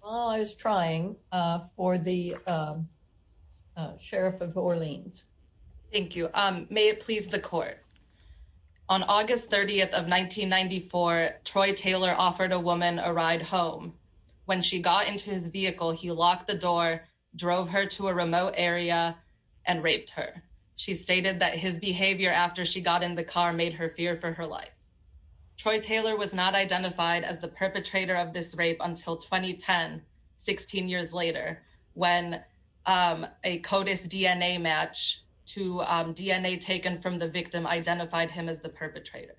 while i was trying uh for the sheriff of orleans thank you um may it please the court on august 30th of 1994 troy taylor offered a woman a ride home when she got into his vehicle he locked the door drove her to a remote area and raped her she stated that his behavior after she got in the car made her fear for her life troy taylor was not identified as the perpetrator of this rape until 2010 16 years later when um a codis dna match to um dna taken from the victim identified him as the perpetrator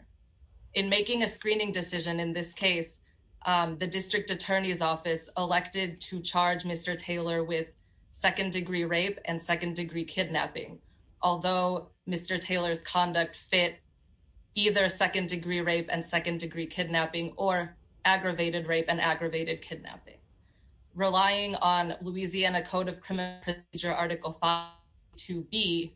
in making a screening decision in this case um the district attorney's office elected to charge mr taylor with second degree rape and second degree kidnapping although mr taylor's conduct fit either second degree rape and second degree kidnapping or aggravated rape and aggravated kidnapping relying on louisiana code of criminal procedure article to be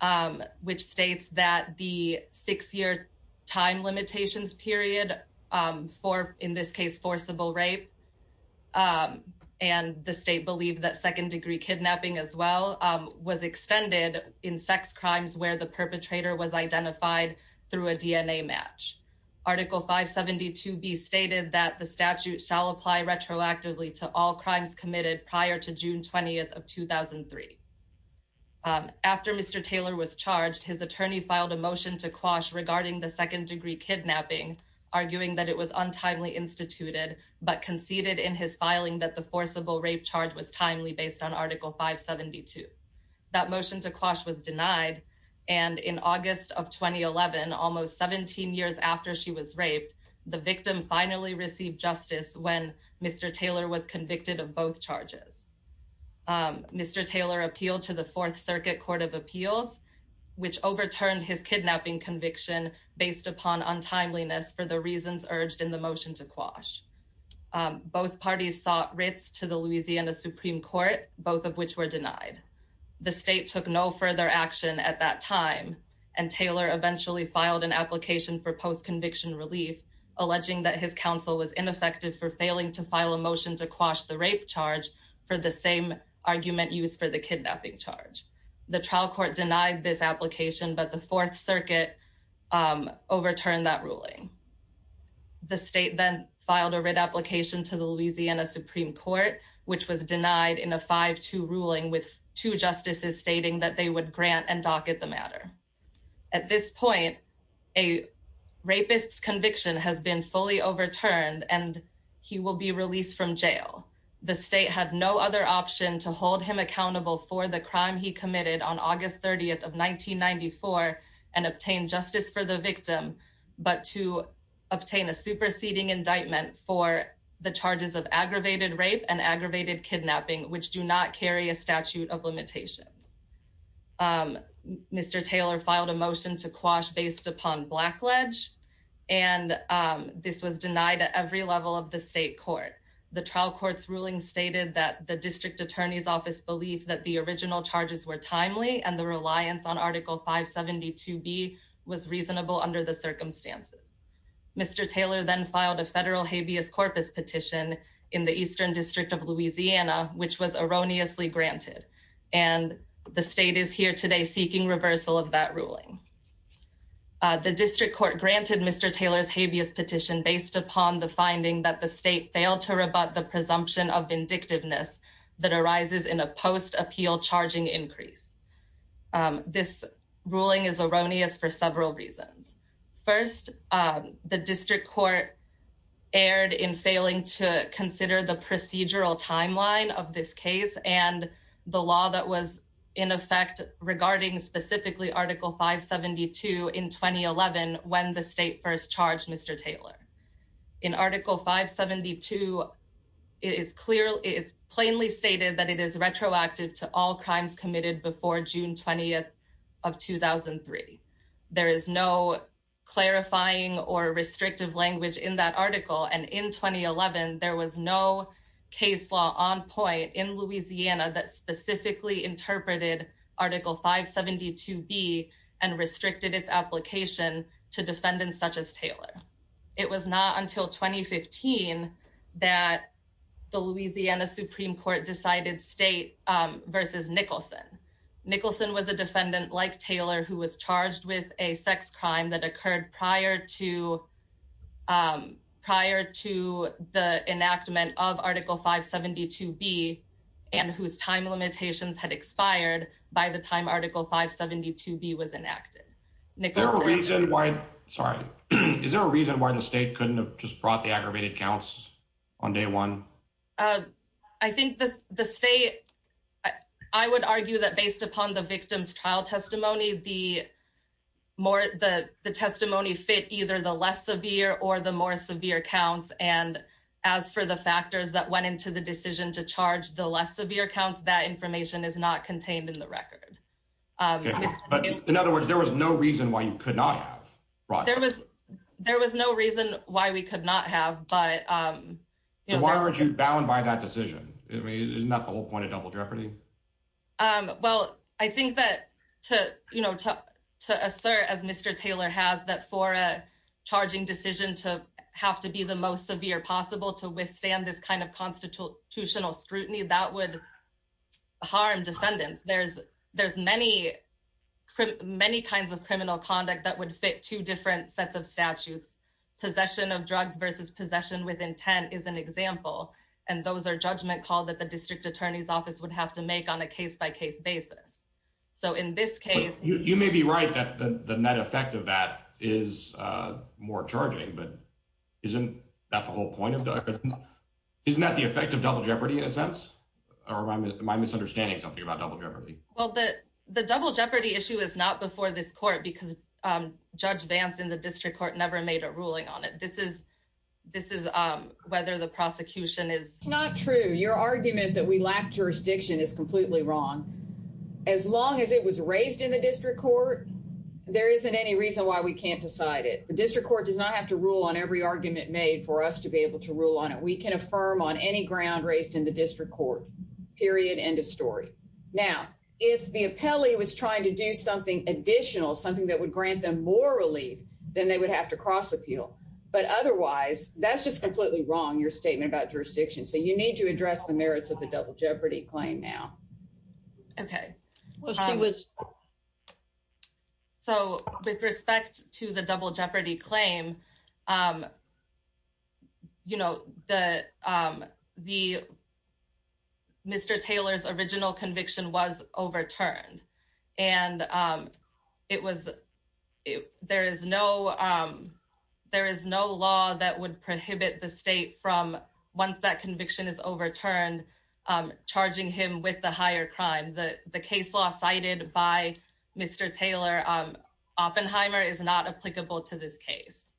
um which states that the six-year time limitations period um for in this case forcible rape um and the state believed that second degree kidnapping as well um was extended in sex crimes where the perpetrator was identified through a dna match article 572b stated that the statute shall apply retroactively to all crimes committed prior to june 20th of 2003 after mr taylor was charged his attorney filed a motion to quash regarding the second degree kidnapping arguing that it was untimely instituted but conceded in his filing that the forcible rape charge was timely based on article 572 that motion to quash was denied and in august of 2011 almost 17 years after she was raped the victim finally received justice when mr taylor was convicted of both charges um mr taylor appealed to the fourth circuit court of appeals which overturned his kidnapping conviction based upon untimeliness for the reasons urged in the motion to quash both parties sought writs to the louisiana supreme court both of which were denied the state took no further action at that time and taylor eventually filed an application for post-conviction relief alleging that his counsel was ineffective for failing to file a motion to quash the rape charge for the same argument used for the kidnapping charge the trial court denied this application but the fourth circuit overturned that ruling the state then filed a writ application to the louisiana supreme court which was denied in a 5-2 ruling with two justices stating that they would grant and docket the matter at this point a rapist's conviction has been fully overturned and he will be released from jail the state had no other option to hold him accountable for the 1994 and obtain justice for the victim but to obtain a superseding indictment for the charges of aggravated rape and aggravated kidnapping which do not carry a statute of limitations um mr taylor filed a motion to quash based upon black ledge and um this was denied at every level of the state court the trial court's ruling stated that the district attorney's office believed that the original charges were timely and the reliance on article 572 b was reasonable under the circumstances mr taylor then filed a federal habeas corpus petition in the eastern district of louisiana which was erroneously granted and the state is here today seeking reversal of that ruling uh the district court granted mr taylor's habeas petition based upon the finding that the state failed to rebut the presumption of vindictiveness that arises in a post appeal charging increase this ruling is erroneous for several reasons first the district court erred in failing to consider the procedural timeline of this case and the law that was in effect regarding specifically article 572 in 2011 when the stated that it is retroactive to all crimes committed before june 20th of 2003 there is no clarifying or restrictive language in that article and in 2011 there was no case law on point in louisiana that specifically interpreted article 572 b and restricted its application to defendants such as taylor it was not until 2015 that the louisiana supreme court decided state um versus nicholson nicholson was a defendant like taylor who was charged with a sex crime that occurred prior to um prior to the enactment of article 572 b and whose time limitations had expired by the time article 572 b was enacted there's a reason why sorry is there a reason why the state couldn't have just brought the aggravated counts on day one uh i think the the state i would argue that based upon the victim's trial testimony the more the the testimony fit either the less severe or the more severe counts and as for the factors that went into the decision to record um but in other words there was no reason why you could not have right there was there was no reason why we could not have but um why aren't you bound by that decision i mean isn't that the whole point of double jeopardy um well i think that to you know to to assert as mr taylor has that for a charging decision to have to be the most severe possible to withstand this kind of constitutional scrutiny that would harm defendants there's there's many many kinds of criminal conduct that would fit two different sets of statutes possession of drugs versus possession with intent is an example and those are judgment call that the district attorney's office would have to make on a case-by-case basis so in this case you may be right that the net effect of that is uh more charging but isn't that the whole point of isn't that the effect of double jeopardy in a sense or am i misunderstanding something about double jeopardy well the the double jeopardy issue is not before this court because um judge vance in the district court never made a ruling on it this is this is um whether the prosecution is not true your argument that we lack jurisdiction is completely wrong as long as it was raised in the district court there isn't any reason why we can't decide it the district court does not have to rule on every argument made for us to be able to rule on it we can affirm on any ground raised in the district court period end of story now if the appellee was trying to do something additional something that would grant them more relief then they would have to cross appeal but otherwise that's just completely wrong your statement about jurisdiction so you need to address the merits of the double claim now okay well she was so with respect to the double jeopardy claim um you know the um the mr taylor's original conviction was overturned and um it was there is no um there is no law that would prohibit the state from once that conviction is overturned um charging him with the higher crime the the case law cited by mr taylor um oppenheimer is not applicable to this case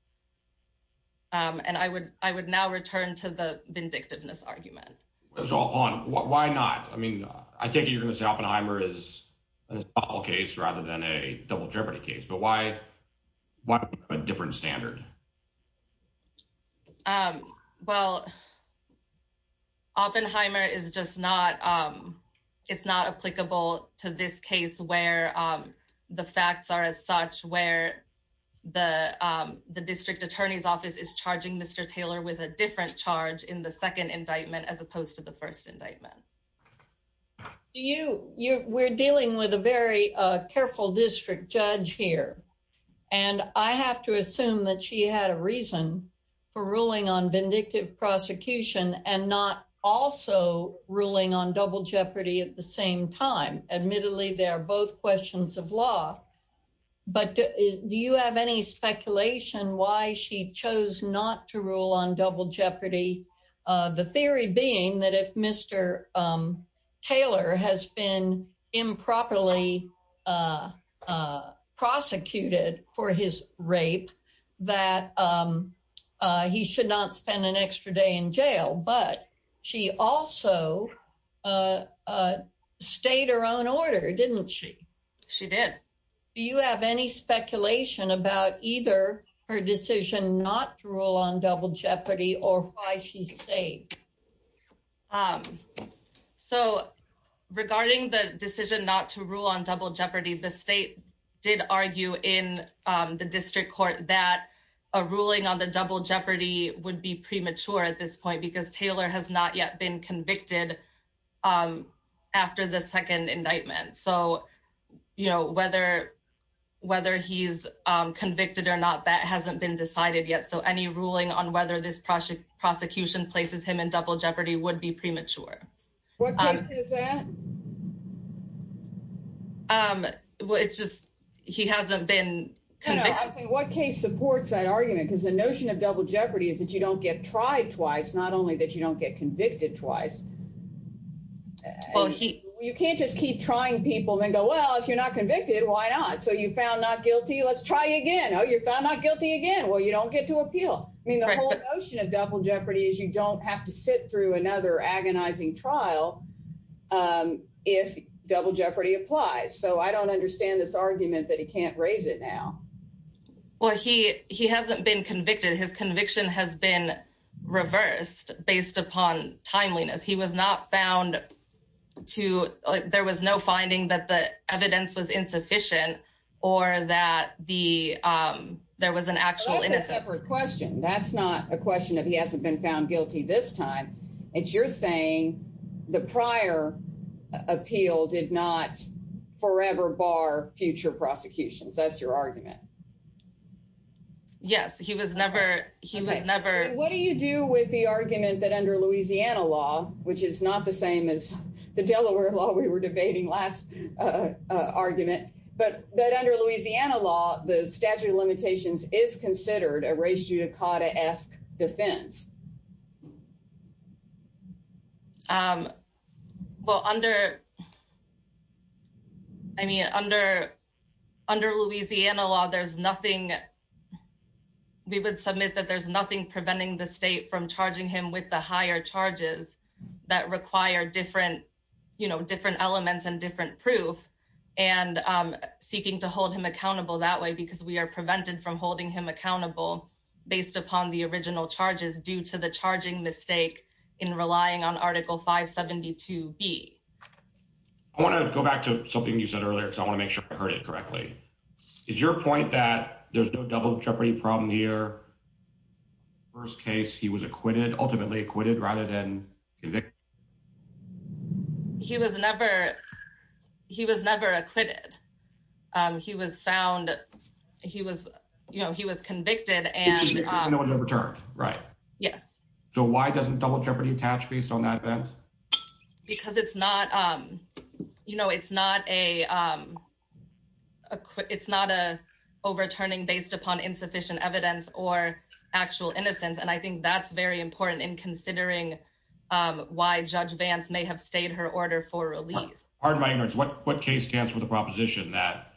um and i would i would now return to the vindictiveness argument it's all on why not i mean i think you're gonna say oppenheimer is a case rather than a double jeopardy case but why why a different standard um well oppenheimer is just not um it's not applicable to this case where um the facts are as such where the um the district attorney's office is charging mr taylor with a different charge in the second indictment as opposed to the first indictment do you you we're dealing with a very uh careful district judge here and i have to assume that she had a reason for ruling on vindictive prosecution and not also ruling on double jeopardy at the same time admittedly they are both questions of law but do you have any speculation why she chose not to taylor has been improperly uh uh prosecuted for his rape that um uh he should not spend an extra day in jail but she also uh uh stayed her own order didn't she she did do you have any speculation about either her decision not to rule on double jeopardy or why she stayed so regarding the decision not to rule on double jeopardy the state did argue in the district court that a ruling on the double jeopardy would be premature at this point because taylor has not been convicted um after the second indictment so you know whether whether he's um convicted or not that hasn't been decided yet so any ruling on whether this prosecution places him in double jeopardy would be premature what case is that um well it's just he hasn't been what case supports that argument because the notion of double jeopardy is that you don't get tried twice not only that you don't get convicted twice well he you can't just keep trying people and go well if you're not convicted why not so you found not guilty let's try again oh you're found not guilty again well you don't get to appeal i mean the whole notion of double jeopardy is you don't have to sit through another agonizing trial um if double jeopardy applies so i don't understand this argument that he can't raise it now well he he hasn't been convicted his conviction has been reversed based upon timeliness he was not found to there was no finding that the evidence was insufficient or that the um there was an actual innocent question that's not a question that he hasn't been found guilty this time it's you're saying the prior appeal did not forever bar future prosecutions that's your argument yes he was never he was never what do you do with the argument that under louisiana law which is not the same as the delaware law we were debating last uh argument but that under louisiana law the statute of limitations is considered a race judicata-esque defense um well under i mean under under louisiana law there's nothing we would submit that there's nothing preventing the state from charging him with the higher charges that require different you know different elements and different proof and um seeking to hold him accountable that way because we are to the charging mistake in relying on article 572 b i want to go back to something you said earlier because i want to make sure i heard it correctly is your point that there's no double jeopardy problem here first case he was acquitted ultimately acquitted rather than he was never he was never acquitted um he was found he was you know he was convicted and um overturned right yes so why doesn't double jeopardy attach based on that event because it's not um you know it's not a um it's not a overturning based upon insufficient evidence or actual innocence and i think that's very important in considering um why judge vance may have stayed her order for release pardon my ignorance what what case stands for the proposition that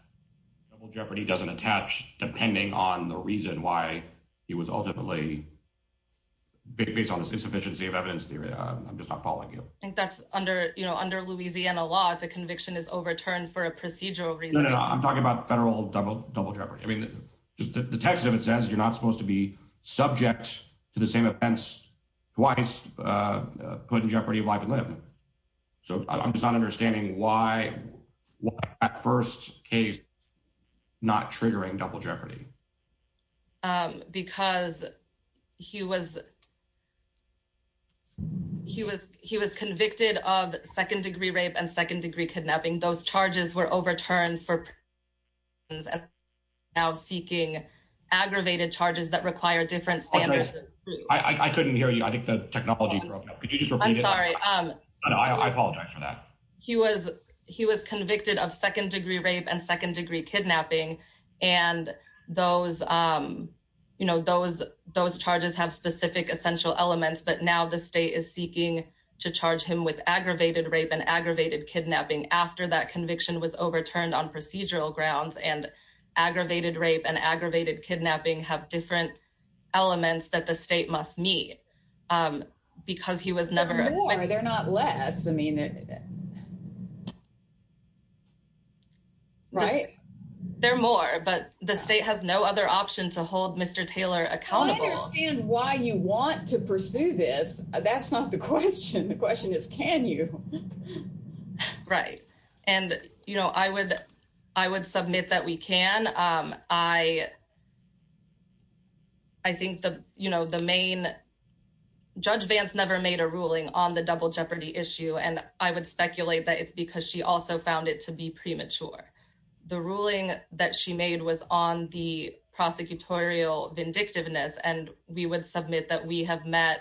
double jeopardy doesn't attach depending on the reason why he was ultimately based on this insufficiency of evidence theory i'm just not following you i think that's under you know under louisiana law if a conviction is overturned for a procedural reason i'm talking about federal double double jeopardy i mean the text of it says you're not supposed to be subject to the case not triggering double jeopardy um because he was he was he was convicted of second degree rape and second degree kidnapping those charges were overturned for and now seeking aggravated charges that require different standards i i couldn't hear you i think the technology broke up could you just repeat it i'm sorry no i apologize for that he was he was convicted of second degree rape and second degree kidnapping and those um you know those those charges have specific essential elements but now the state is seeking to charge him with aggravated rape and aggravated kidnapping after that conviction was overturned on procedural grounds and aggravated rape and aggravated kidnapping have different elements that the state must meet um because he was never more they're not less i mean they're right they're more but the state has no other option to hold mr taylor accountable why you want to pursue this that's not the question the question is can you right and you know i would i would submit that we can um i i think the you know the main judge vance never made a ruling on the double jeopardy issue and i would speculate that it's because she also found it to be premature the ruling that she made was on the prosecutorial vindictiveness and we would submit that we have met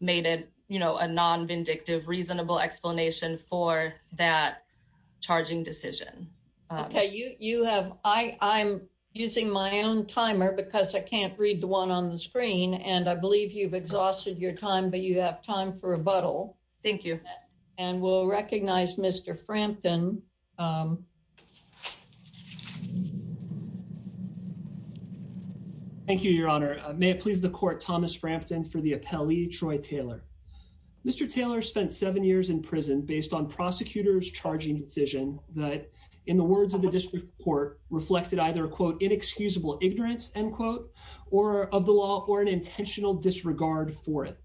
made it you know a non-vindictive reasonable explanation for that charging decision okay you you have i i'm using my own timer because i can't read the one on the screen and i believe you've exhausted your time but you have time for rebuttal thank you and we'll recognize mr frampton um thank you your honor may it please the court thomas frampton for the appellee troy taylor mr taylor spent seven years in prison based on prosecutors charging decision that in the words of the district court reflected either quote inexcusable ignorance end quote or of the law or an intentional disregard for it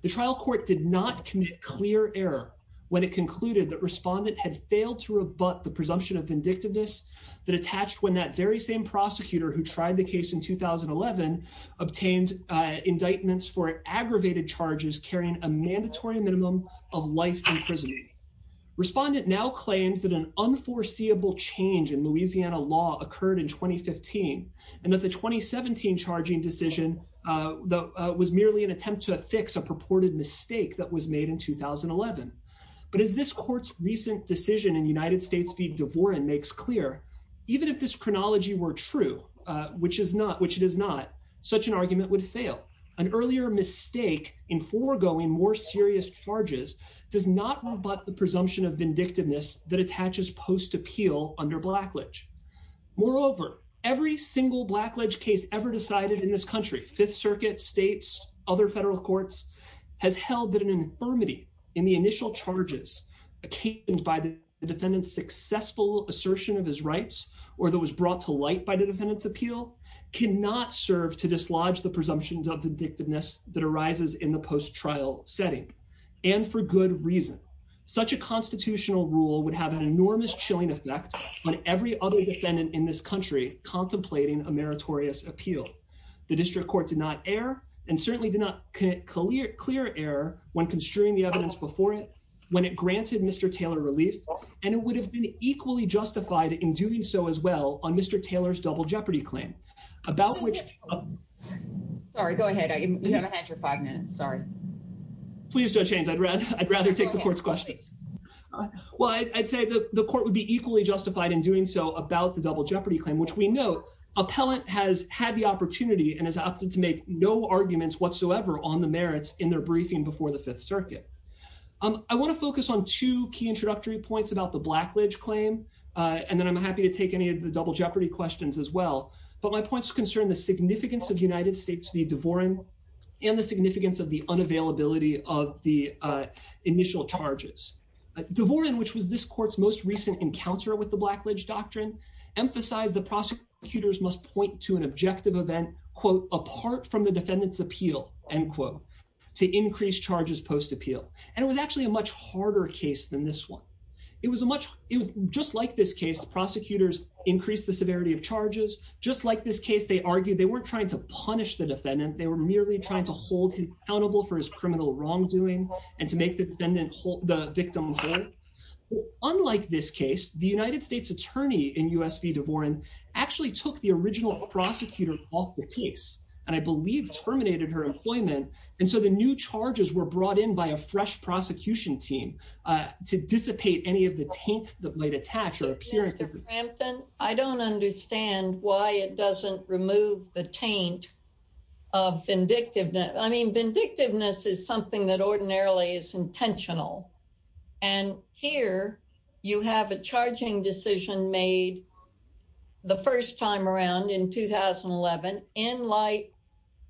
the trial court did not commit clear error when it concluded that respondent had failed to rebut the presumption of vindictiveness that attached when that very same prosecutor who tried the case in 2011 obtained uh indictments for aggravated charges carrying a mandatory minimum of life in prison respondent now claims that an unforeseeable change in louisiana law occurred in 2015 and that the 2017 charging decision uh was merely an attempt to affix a purported mistake that was made in 2011 but as this court's recent decision in united states v devoren makes clear even if this chronology were true uh which is not which it is not such an argument would fail an earlier mistake in foregoing more serious charges does not rebut the presumption of vindictiveness that attaches post appeal under blackledge moreover every single blackledge case ever decided in this country fifth circuit states other federal courts has held that an infirmity in the initial charges obtained by the defendant's successful assertion of his rights or that was brought to light by the defendant's appeal cannot serve to dislodge the presumptions of vindictiveness that arises in the post trial setting and for good reason such a constitutional rule would have an enormous chilling effect on every other defendant in this country contemplating a meritorious appeal the district court did not err and certainly did not clear clear error when construing the evidence before it when it granted mr taylor relief and it would have been equally justified in doing so as well on mr taylor's double jeopardy claim about which sorry go ahead you haven't had your five minutes sorry please don't change i'd rather i'd rather take the court's questions well i'd say the the court would be equally justified in doing so about the double has had the opportunity and has opted to make no arguments whatsoever on the merits in their briefing before the fifth circuit um i want to focus on two key introductory points about the blackledge claim uh and then i'm happy to take any of the double jeopardy questions as well but my points concern the significance of united states v devoren and the significance of the unavailability of the uh initial charges devoren which was this court's most recent encounter with blackledge doctrine emphasized the prosecutors must point to an objective event quote apart from the defendant's appeal end quote to increase charges post appeal and it was actually a much harder case than this one it was a much it was just like this case prosecutors increased the severity of charges just like this case they argued they weren't trying to punish the defendant they were merely trying to hold him accountable for his criminal wrongdoing and to make the point that the united states attorney in usv devoren actually took the original prosecutor off the case and i believe terminated her employment and so the new charges were brought in by a fresh prosecution team uh to dissipate any of the taint that might attach or appear at the frampton i don't understand why it doesn't remove the taint of vindictiveness i mean vindictiveness is something that ordinarily is intentional and here you have a charging decision made the first time around in 2011 in light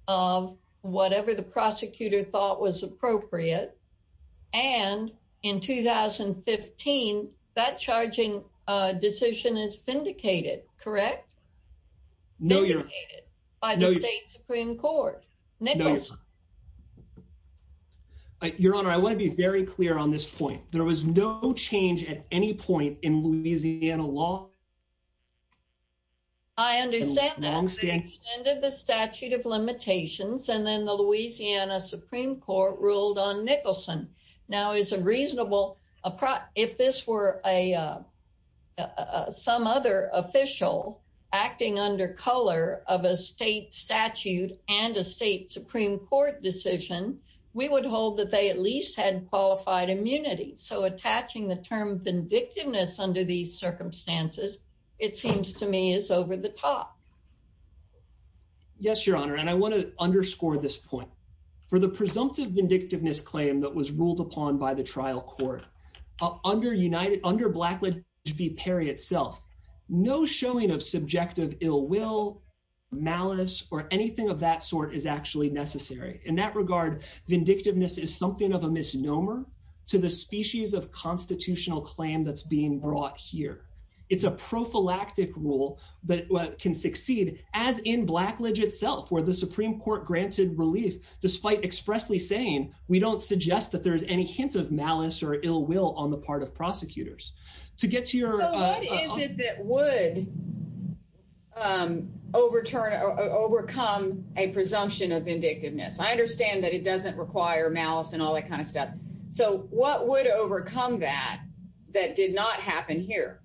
of whatever the prosecutor thought was appropriate and in 2015 that charging uh decision is vindicated correct no you're by the state supreme court your honor i want to be very clear on this point there was no change at any point in louisiana law i understand that extended the statute of limitations and then the louisiana supreme court ruled on nicholson now is a reasonable if this were a some other official acting under color of a state statute and a state supreme court decision we would hold that they at least had qualified immunity so attaching the term vindictiveness under these circumstances it seems to me is over the top yes your honor and i want to underscore this point for the presumptive vindictiveness claim that was ruled upon by the trial court under united under blackledge v perry itself no showing of subjective ill will malice or anything of that sort is actually necessary in that regard vindictiveness is something of a misnomer to the species of constitutional claim that's being brought here it's a prophylactic rule that can succeed as in blackledge itself where the supreme court granted relief despite expressly saying we don't suggest that there's any hint of malice or ill will on the part of prosecutors to get to your what is it that would um overturn or overcome a presumption of vindictiveness i understand that it doesn't require malice and all that kind of stuff so what would overcome that that did not happen here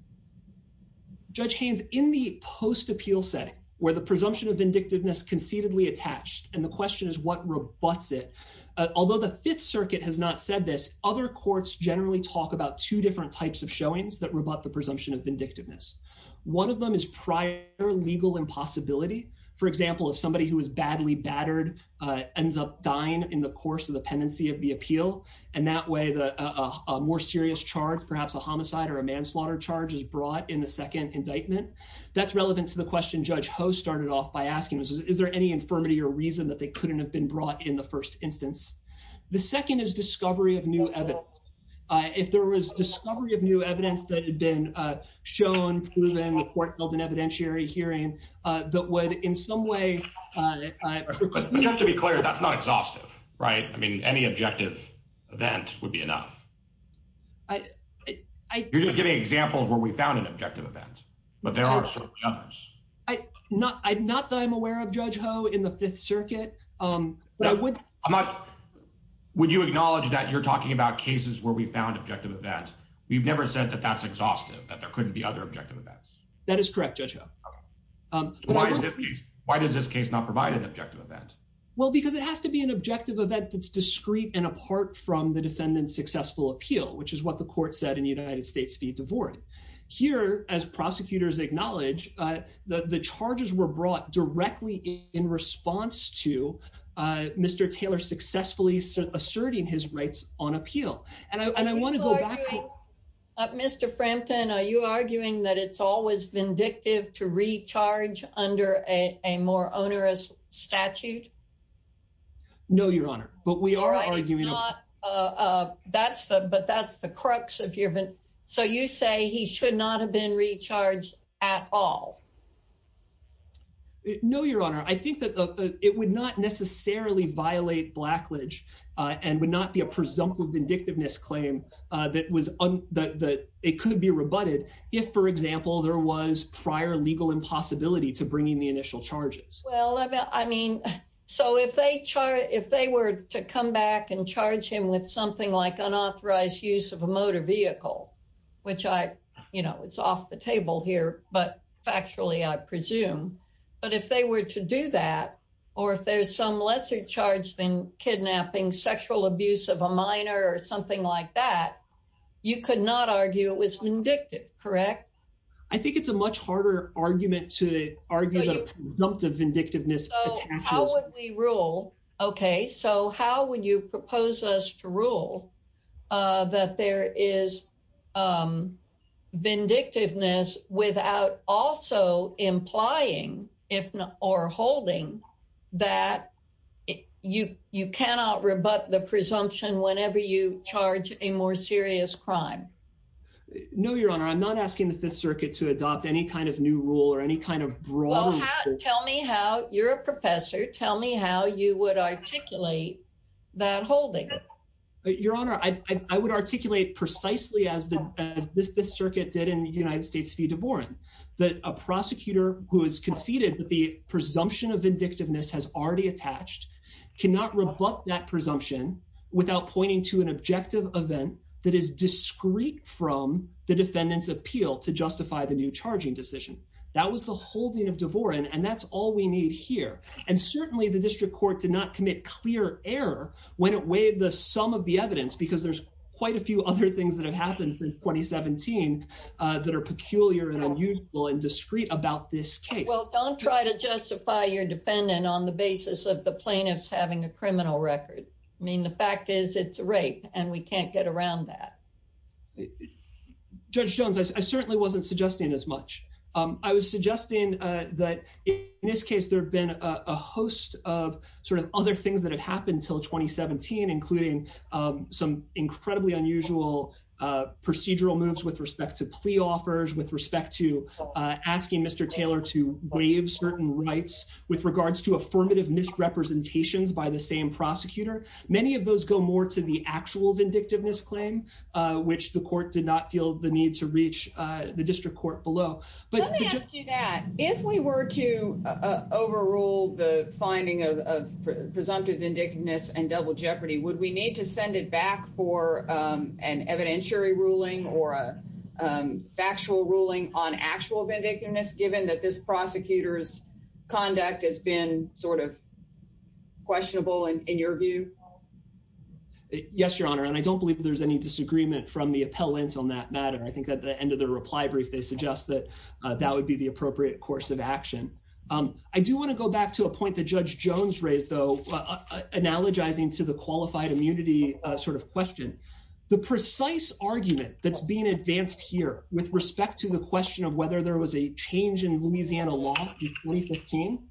judge haynes in the post appeal setting where the presumption of vindictiveness concededly attached and the question is what rebutts it although the fifth circuit has not said this other courts generally talk about two different types of showings that rebut the presumption of vindictiveness one of them is prior legal impossibility for example if somebody who is badly battered uh ends up dying in the course of the pendency of the appeal and that way the a more serious charge perhaps a homicide or a manslaughter charge is brought in the second indictment that's relevant to the question judge ho started off by asking is there any infirmity or reason that they couldn't have been brought in the first instance the second is discovery of new evidence uh if there was discovery of new evidence that had been uh shown proven the court held an evidentiary hearing uh that would in some way uh but just to be clear that's not exhaustive right i mean any objective event would be enough i i you're just giving examples where we found an objective event but there are certainly others i not i'm not that i'm aware of judge ho in the fifth circuit um but i would i'm not would you acknowledge that you're talking about cases where we found objective events we've never said that that's exhaustive that there couldn't be other objective that is correct judge ho um why is this case why does this case not provide an objective event well because it has to be an objective event that's discreet and apart from the defendant's successful appeal which is what the court said in united states v devore here as prosecutors acknowledge uh the the charges were brought directly in response to uh mr taylor successfully asserting his rights on appeal and i want to go back up mr frampton are you arguing that it's always vindictive to recharge under a a more onerous statute no your honor but we are arguing that's the but that's the crux of your event so you say he should not have been recharged at all no your honor i think that it would not necessarily violate blackledge uh and would be a presumptive vindictiveness claim uh that was on that it could be rebutted if for example there was prior legal impossibility to bringing the initial charges well i mean so if they charge if they were to come back and charge him with something like unauthorized use of a motor vehicle which i you know it's off the table here but factually i presume but if they were to do that or if there's some lesser charge than kidnapping sexual abuse of a minor or something like that you could not argue it was vindictive correct i think it's a much harder argument to argue the presumptive vindictiveness how would we rule okay so how would you propose us to rule uh that there is um vindictiveness without also implying if not or holding that you you cannot rebut the presumption whenever you charge a more serious crime no your honor i'm not asking the fifth circuit to adopt any kind of new rule or any kind of rule tell me how you're a professor tell me how you would articulate that holding your honor i i would articulate precisely as the as this circuit did in the united states v devoren that a prosecutor who has conceded that the presumption of vindictiveness has already attached cannot rebut that presumption without pointing to an objective event that is discreet from the defendant's appeal to justify the new charging decision that was the holding of devoren and that's all we need here and certainly the district court did not commit clear error when it weighed the sum of the evidence because there's quite a few other things that have happened since 2017 uh that are peculiar and unusual and discreet about this case well don't try to justify your defendant on the basis of the plaintiffs having a criminal record i mean the fact is it's rape and we can't get around that judge jones i certainly wasn't suggesting as much um i was suggesting uh that in this case there have been a host of sort of other things that have happened until 2017 including um some incredibly unusual uh procedural moves with respect to plea offers with respect to uh asking mr taylor to waive certain rights with regards to affirmative misrepresentations by the same prosecutor many of those go more to the court below but let me ask you that if we were to uh overrule the finding of presumptive vindictiveness and double jeopardy would we need to send it back for um an evidentiary ruling or a factual ruling on actual vindictiveness given that this prosecutor's conduct has been sort of questionable and in your view yes your honor and i don't believe there's any disagreement from the appellant on that matter i think at the end of the reply brief they suggest that that would be the appropriate course of action i do want to go back to a point that judge jones raised though analogizing to the qualified immunity uh sort of question the precise argument that's being advanced here with respect to the question of whether there was a change in louisiana law in 2015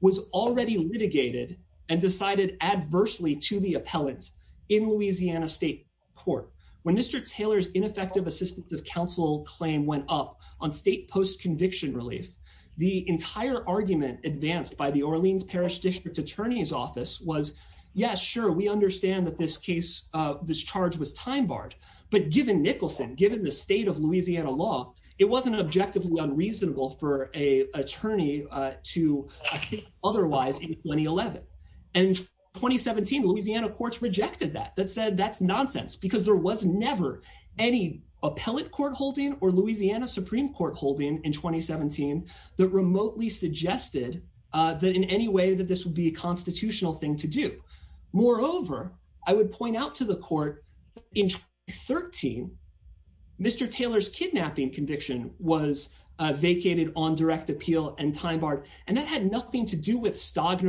was already litigated and decided adversely to the appellant in louisiana state court when mr taylor's ineffective assistance of counsel claim went up on state post-conviction relief the entire argument advanced by the orleans parish district attorney's office was yes sure we understand that this case uh this charge was time barred but given nicholson given the state of louisiana law it wasn't objectively unreasonable for a attorney uh to otherwise in 2011 and 2017 louisiana courts rejected that that said that's nonsense because there was never any appellate court holding or louisiana supreme court holding in 2017 that remotely suggested uh that in any way that this would be a constitutional thing to do moreover i would point out to the court in 13 mr taylor's kidnapping conviction was uh vacated on stagner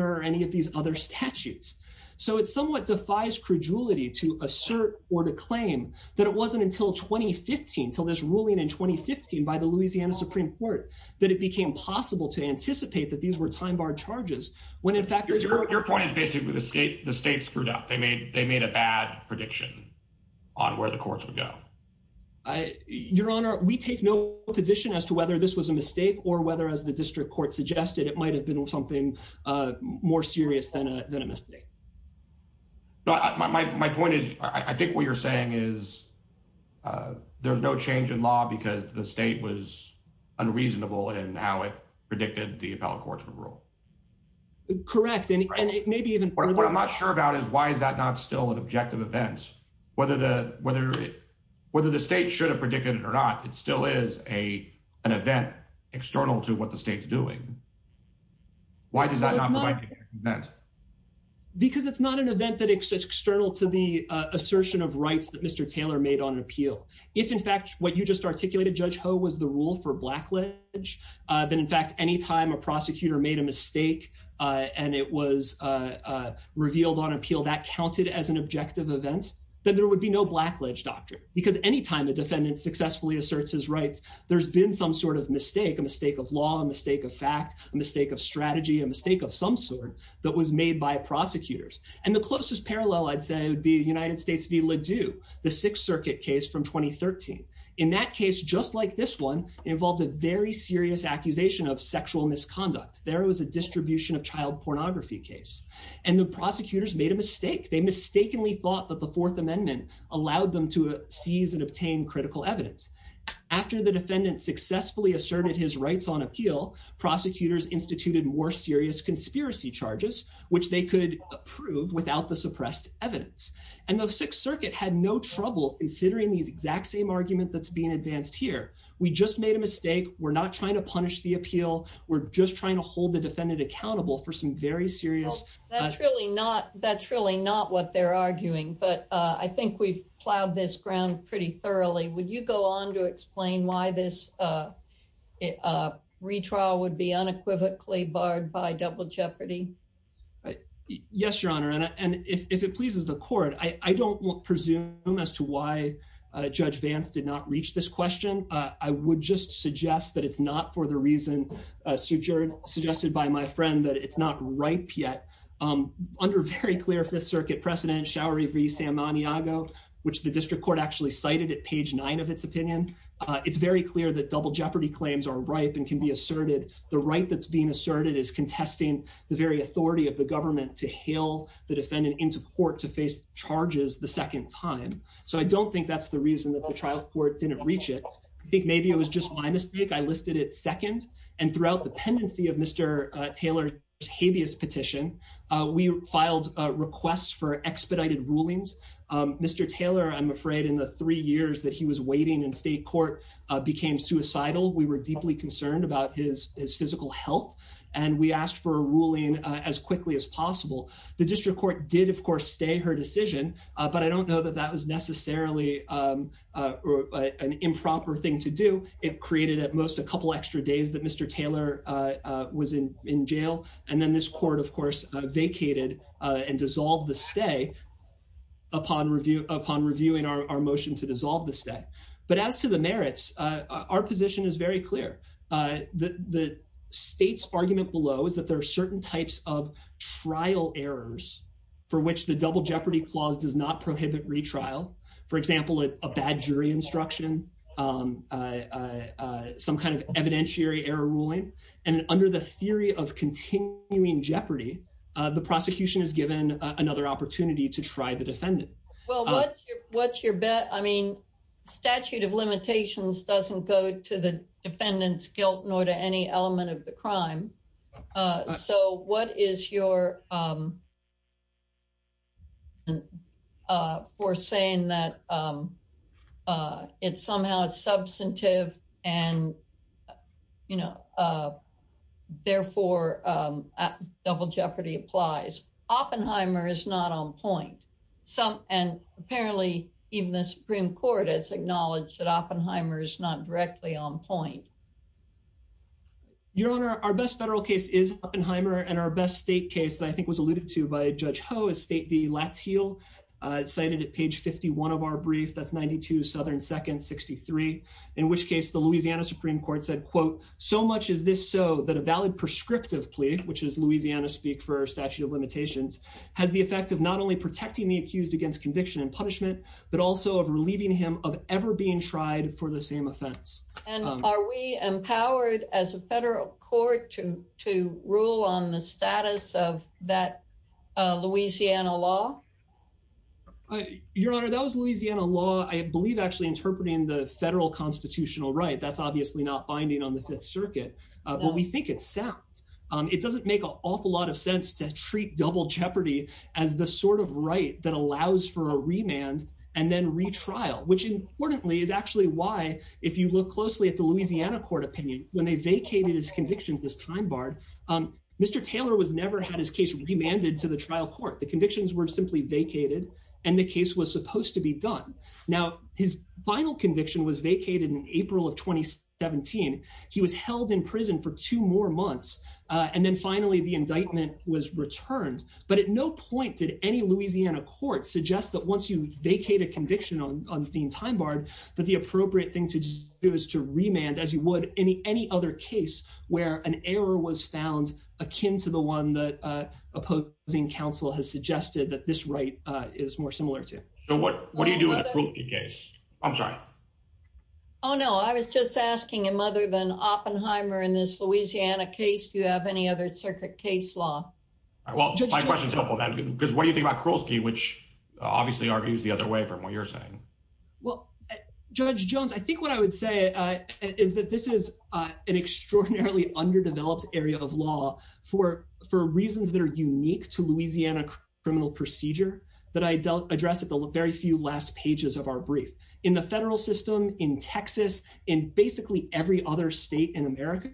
or any of these other statutes so it somewhat defies credulity to assert or to claim that it wasn't until 2015 until this ruling in 2015 by the louisiana supreme court that it became possible to anticipate that these were time barred charges when in fact your point is basically the state the state screwed up they made they made a bad prediction on where the courts would go your honor we take no position as to whether this was a mistake or whether as the district court suggested it might have been something uh more serious than a than a mistake no my my point is i think what you're saying is uh there's no change in law because the state was unreasonable and how it predicted the appellate court's rule correct and it may be even what i'm not sure about is why is that not still an objective event whether the whether whether the state should have predicted it or not it still is a an event external to what the state's doing why does that not that because it's not an event that is external to the assertion of rights that mr taylor made on appeal if in fact what you just articulated judge ho was the rule for black ledge uh then in fact any time a prosecutor made a mistake uh and it was uh revealed on appeal that counted as an objective event then there would be no black ledge doctrine because any time the defendant successfully asserts his rights there's been some sort of mistake a mistake of law a mistake of fact a mistake of strategy a mistake of some sort that was made by prosecutors and the closest parallel i'd say would be united states v ladew the sixth circuit case from 2013 in that case just like this one involved a very serious accusation of sexual misconduct there was a distribution of child pornography case and the prosecutors made a allowed them to seize and obtain critical evidence after the defendant successfully asserted his rights on appeal prosecutors instituted more serious conspiracy charges which they could approve without the suppressed evidence and the sixth circuit had no trouble considering these exact same argument that's being advanced here we just made a mistake we're not trying to punish the appeal we're just trying to hold the defendant accountable for some very that's really not that's really not what they're arguing but uh i think we've plowed this ground pretty thoroughly would you go on to explain why this uh uh retrial would be unequivocally barred by double jeopardy right yes your honor and if it pleases the court i i don't presume as to why uh judge vance did not reach this question uh i would just suggest that it's not for the reason uh suggested by my friend that it's not ripe yet um under very clear fifth circuit precedent showery v san maniago which the district court actually cited at page nine of its opinion uh it's very clear that double jeopardy claims are ripe and can be asserted the right that's being asserted is contesting the very authority of the government to hail the defendant into court to face charges the second time so i don't think that's the reason that the trial court didn't reach it i think maybe it was just my mistake i listed it second and throughout the pendency of mr taylor's habeas petition uh we filed a request for expedited rulings um mr taylor i'm afraid in the three years that he was waiting in state court uh became suicidal we were deeply concerned about his his physical health and we asked for a ruling as quickly as possible the district court did of course stay her decision uh but i don't know that that was necessarily um or an improper thing to do it created at most a couple extra days that mr taylor uh was in in jail and then this court of course vacated uh and dissolved the stay upon review upon reviewing our motion to dissolve the stay but as to the merits uh our position is very clear uh the the state's argument below is that there are certain types of trial errors for which the double jeopardy clause does not prohibit retrial for example a bad jury instruction some kind of evidentiary error ruling and under the theory of continuing jeopardy the prosecution is given another opportunity to try the defendant well what's your what's your bet i mean statute of limitations doesn't go to the defendant's guilt nor to any element of the crime uh so what is your um uh for saying that um uh it somehow is substantive and you know uh therefore um double jeopardy applies oppenheimer is not on point some and apparently even the supreme court has acknowledged that oppenheimer is not directly on point your honor our best federal case is oppenheimer and our best state case i think was alluded to by judge ho is state v latz he'll cited at page 51 of our brief that's 92 southern second 63 in which case the louisiana supreme court said quote so much is this so that a valid prescriptive plea which is louisiana speak for statute of limitations has the effect of not only protecting the accused against conviction and punishment but also of relieving him of ever being tried for the same offense and are we empowered as a federal court to to rule on the status of that louisiana law your honor that was louisiana law i believe actually interpreting the federal constitutional right that's obviously not binding on the fifth circuit but we think it's sound it doesn't make an awful lot of sense to treat double jeopardy as the sort of right that allows for a remand and then retrial which importantly is actually why if you look closely at the louisiana court opinion when they vacated his convictions this time bard um mr taylor was never had his case remanded to the trial court the convictions were simply vacated and the case was supposed to be done now his final conviction was vacated in april of 2017 he was held in prison for two more months and then finally the indictment was returned but at no point did any louisiana court suggest that once you vacate a conviction on dean time bard that the appropriate thing to do is to remand as you would any any other case where an error was found akin to the one that uh opposing counsel has suggested that this right uh is more similar to so what what do you do in the case i'm sorry oh no i was just asking him other than oppenheimer in this louisiana case do you have any other circuit case law well my question is helpful because what do you think about krolski which obviously argues the other way from what you're saying well judge jones i think what i would say is that this is uh an extraordinarily underdeveloped area of law for for reasons that are unique to louisiana criminal procedure that i dealt address at the very few last pages of our brief in the federal system in texas in basically every other state in america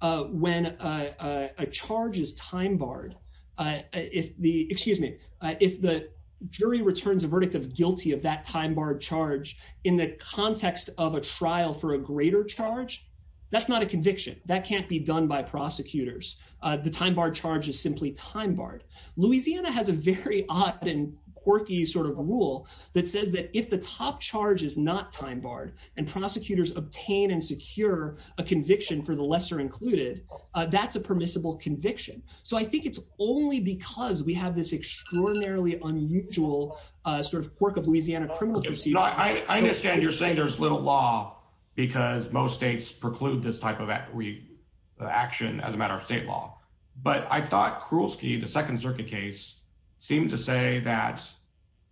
uh when a a charge is time barred uh if the excuse me if the jury returns a verdict of guilty of that time bar charge in the context of a trial for a greater charge that's not a conviction that can't be done by prosecutors uh the time bar charge is simply time barred louisiana has a very odd and quirky sort of rule that says that if the top charge is not time barred and prosecutors obtain and secure a conviction for the lesser included uh that's a permissible conviction so i think it's only because we have this extraordinarily unusual uh sort of quirk of louisiana criminal procedure i understand you're saying there's little law because most states preclude this type of action as a matter of state law but i thought krolski the second circuit case seemed to say that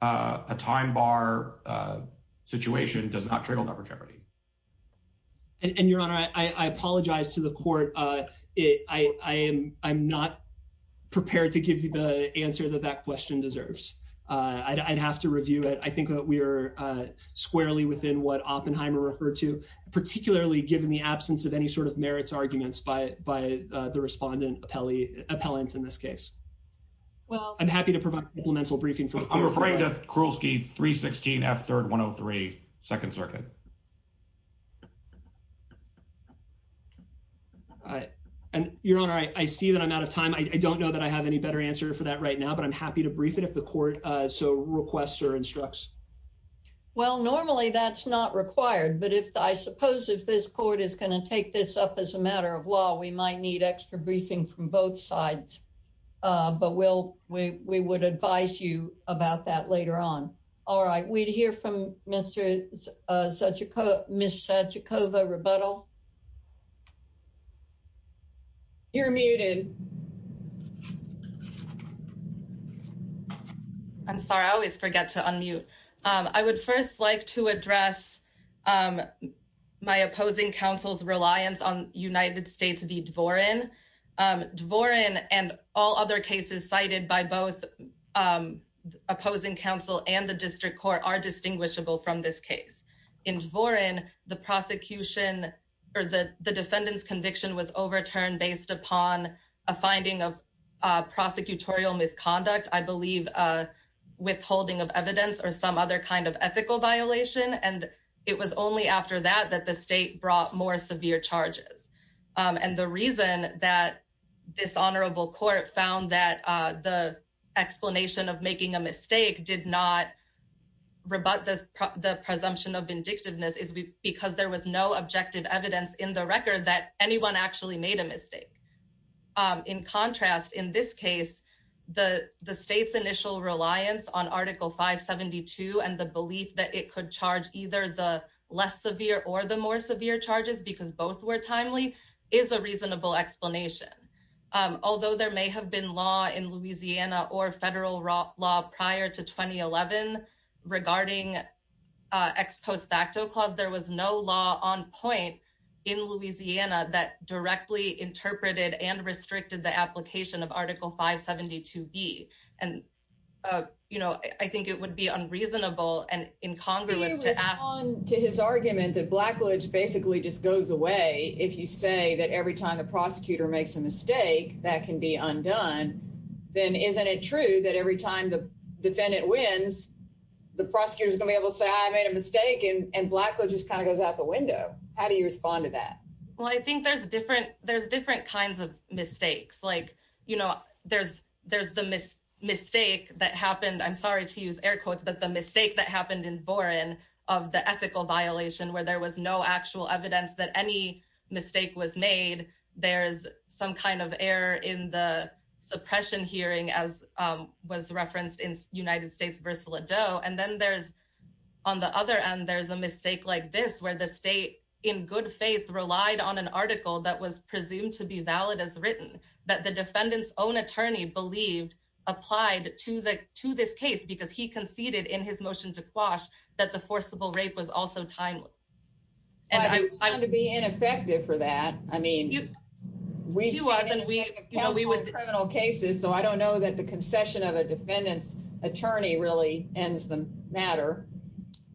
uh a time bar uh situation does not trigger number jeopardy and your honor i i apologize to the court uh it i i am i'm not prepared to give you the answer that that question deserves uh i'd have to review it i think that we are uh squarely within what oppenheimer referred to particularly given the absence of any sort of merits arguments by by the respondent appellee appellant in this case well i'm happy to provide supplemental briefing for referring to krolski 316 f third 103 second circuit all right and your honor i i see that i'm out of time i don't know that i have any better answer for that right now but i'm happy to brief it if the court uh so requests or instructs well normally that's not required but if i suppose if this court is going to take this up as a matter of law we might need extra briefing from both sides uh but we'll we we would advise you about that later on all right we'd hear from mr uh such a co miss sachikova rebuttal you're muted i'm sorry i always forget to unmute um i would first like to address um my opposing council's united states v dworen um dworen and all other cases cited by both um opposing council and the district court are distinguishable from this case in dworen the prosecution or the the defendant's conviction was overturned based upon a finding of uh prosecutorial misconduct i believe uh withholding of evidence or some other kind of ethical violation and it was only after that that the state brought more severe charges and the reason that this honorable court found that the explanation of making a mistake did not rebut the presumption of vindictiveness is because there was no objective evidence in the record that anyone actually made a mistake in contrast in this case the the state's initial reliance on article 572 and the belief that it could charge either the less severe or the more severe charges because both were timely is a reasonable explanation um although there may have been law in louisiana or federal law prior to 2011 regarding uh ex post facto clause there was no law on point in louisiana that directly interpreted and restricted the application of article 572b and uh you know i think it would be unreasonable and incongruous to ask on to his argument that blackledge basically just goes away if you say that every time the prosecutor makes a mistake that can be undone then isn't it true that every time the defendant wins the prosecutor's gonna be able to say i made a mistake and black just kind of goes out the window how do you respond to that well i think there's different there's different kinds of mistakes like you know there's there's the mistake that happened i'm air quotes but the mistake that happened in boren of the ethical violation where there was no actual evidence that any mistake was made there's some kind of error in the suppression hearing as um was referenced in united states vs lido and then there's on the other end there's a mistake like this where the state in good faith relied on an article that was presumed to be valid as written that the defendant's own attorney believed applied to the to this case because he conceded in his motion to quash that the forcible rape was also timely and i was going to be ineffective for that i mean you we do us and we have criminal cases so i don't know that the concession of a defendant's attorney really ends the matter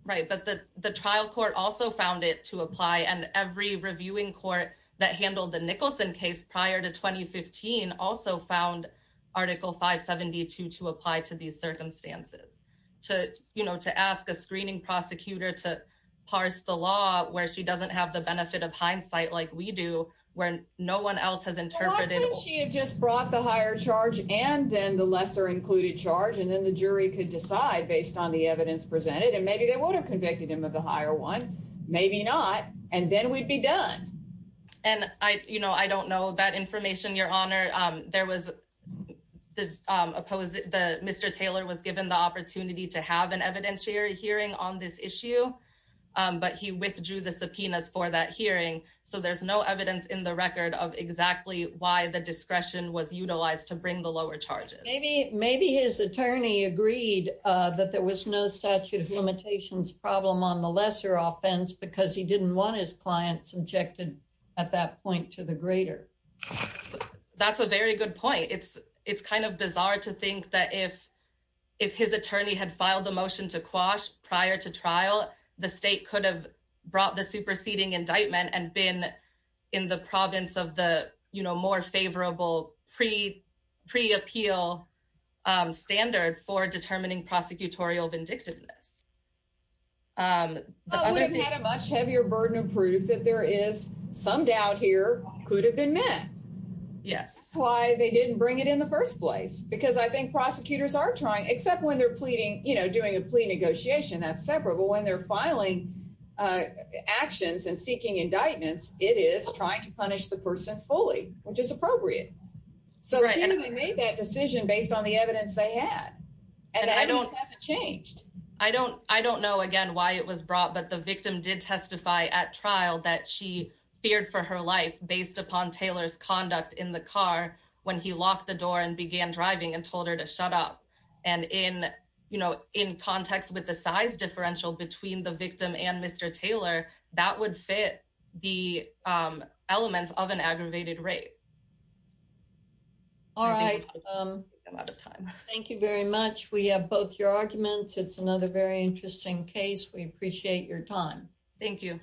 right but the the trial court also found it to also found article 572 to apply to these circumstances to you know to ask a screening prosecutor to parse the law where she doesn't have the benefit of hindsight like we do where no one else has interpreted she had just brought the higher charge and then the lesser included charge and then the jury could decide based on the evidence presented and maybe they would have convicted him of the higher one maybe not and then we'd be done and i you know i don't know that information your honor um there was the opposite the mr taylor was given the opportunity to have an evidentiary hearing on this issue um but he withdrew the subpoenas for that hearing so there's no evidence in the record of exactly why the discretion was utilized to bring the lower charges maybe maybe his attorney agreed uh that there was no statute of limitations problem on lesser offense because he didn't want his client subjected at that point to the greater that's a very good point it's it's kind of bizarre to think that if if his attorney had filed the motion to quash prior to trial the state could have brought the superseding indictment and been in the province of the you know more favorable pre pre-appeal um standard for much heavier burden of proof that there is some doubt here could have been met yes why they didn't bring it in the first place because i think prosecutors are trying except when they're pleading you know doing a plea negotiation that's separate but when they're filing actions and seeking indictments it is trying to punish the person fully which is appropriate so they made that decision based on the evidence they had and i don't change i don't i don't know again why it was brought but the victim did testify at trial that she feared for her life based upon taylor's conduct in the car when he locked the door and began driving and told her to shut up and in you know in context with the size differential between the victim and mr taylor that would fit the um elements of an aggravated rape all right um a lot of time thank you very much we have both your arguments it's another very interesting case we appreciate your time thank you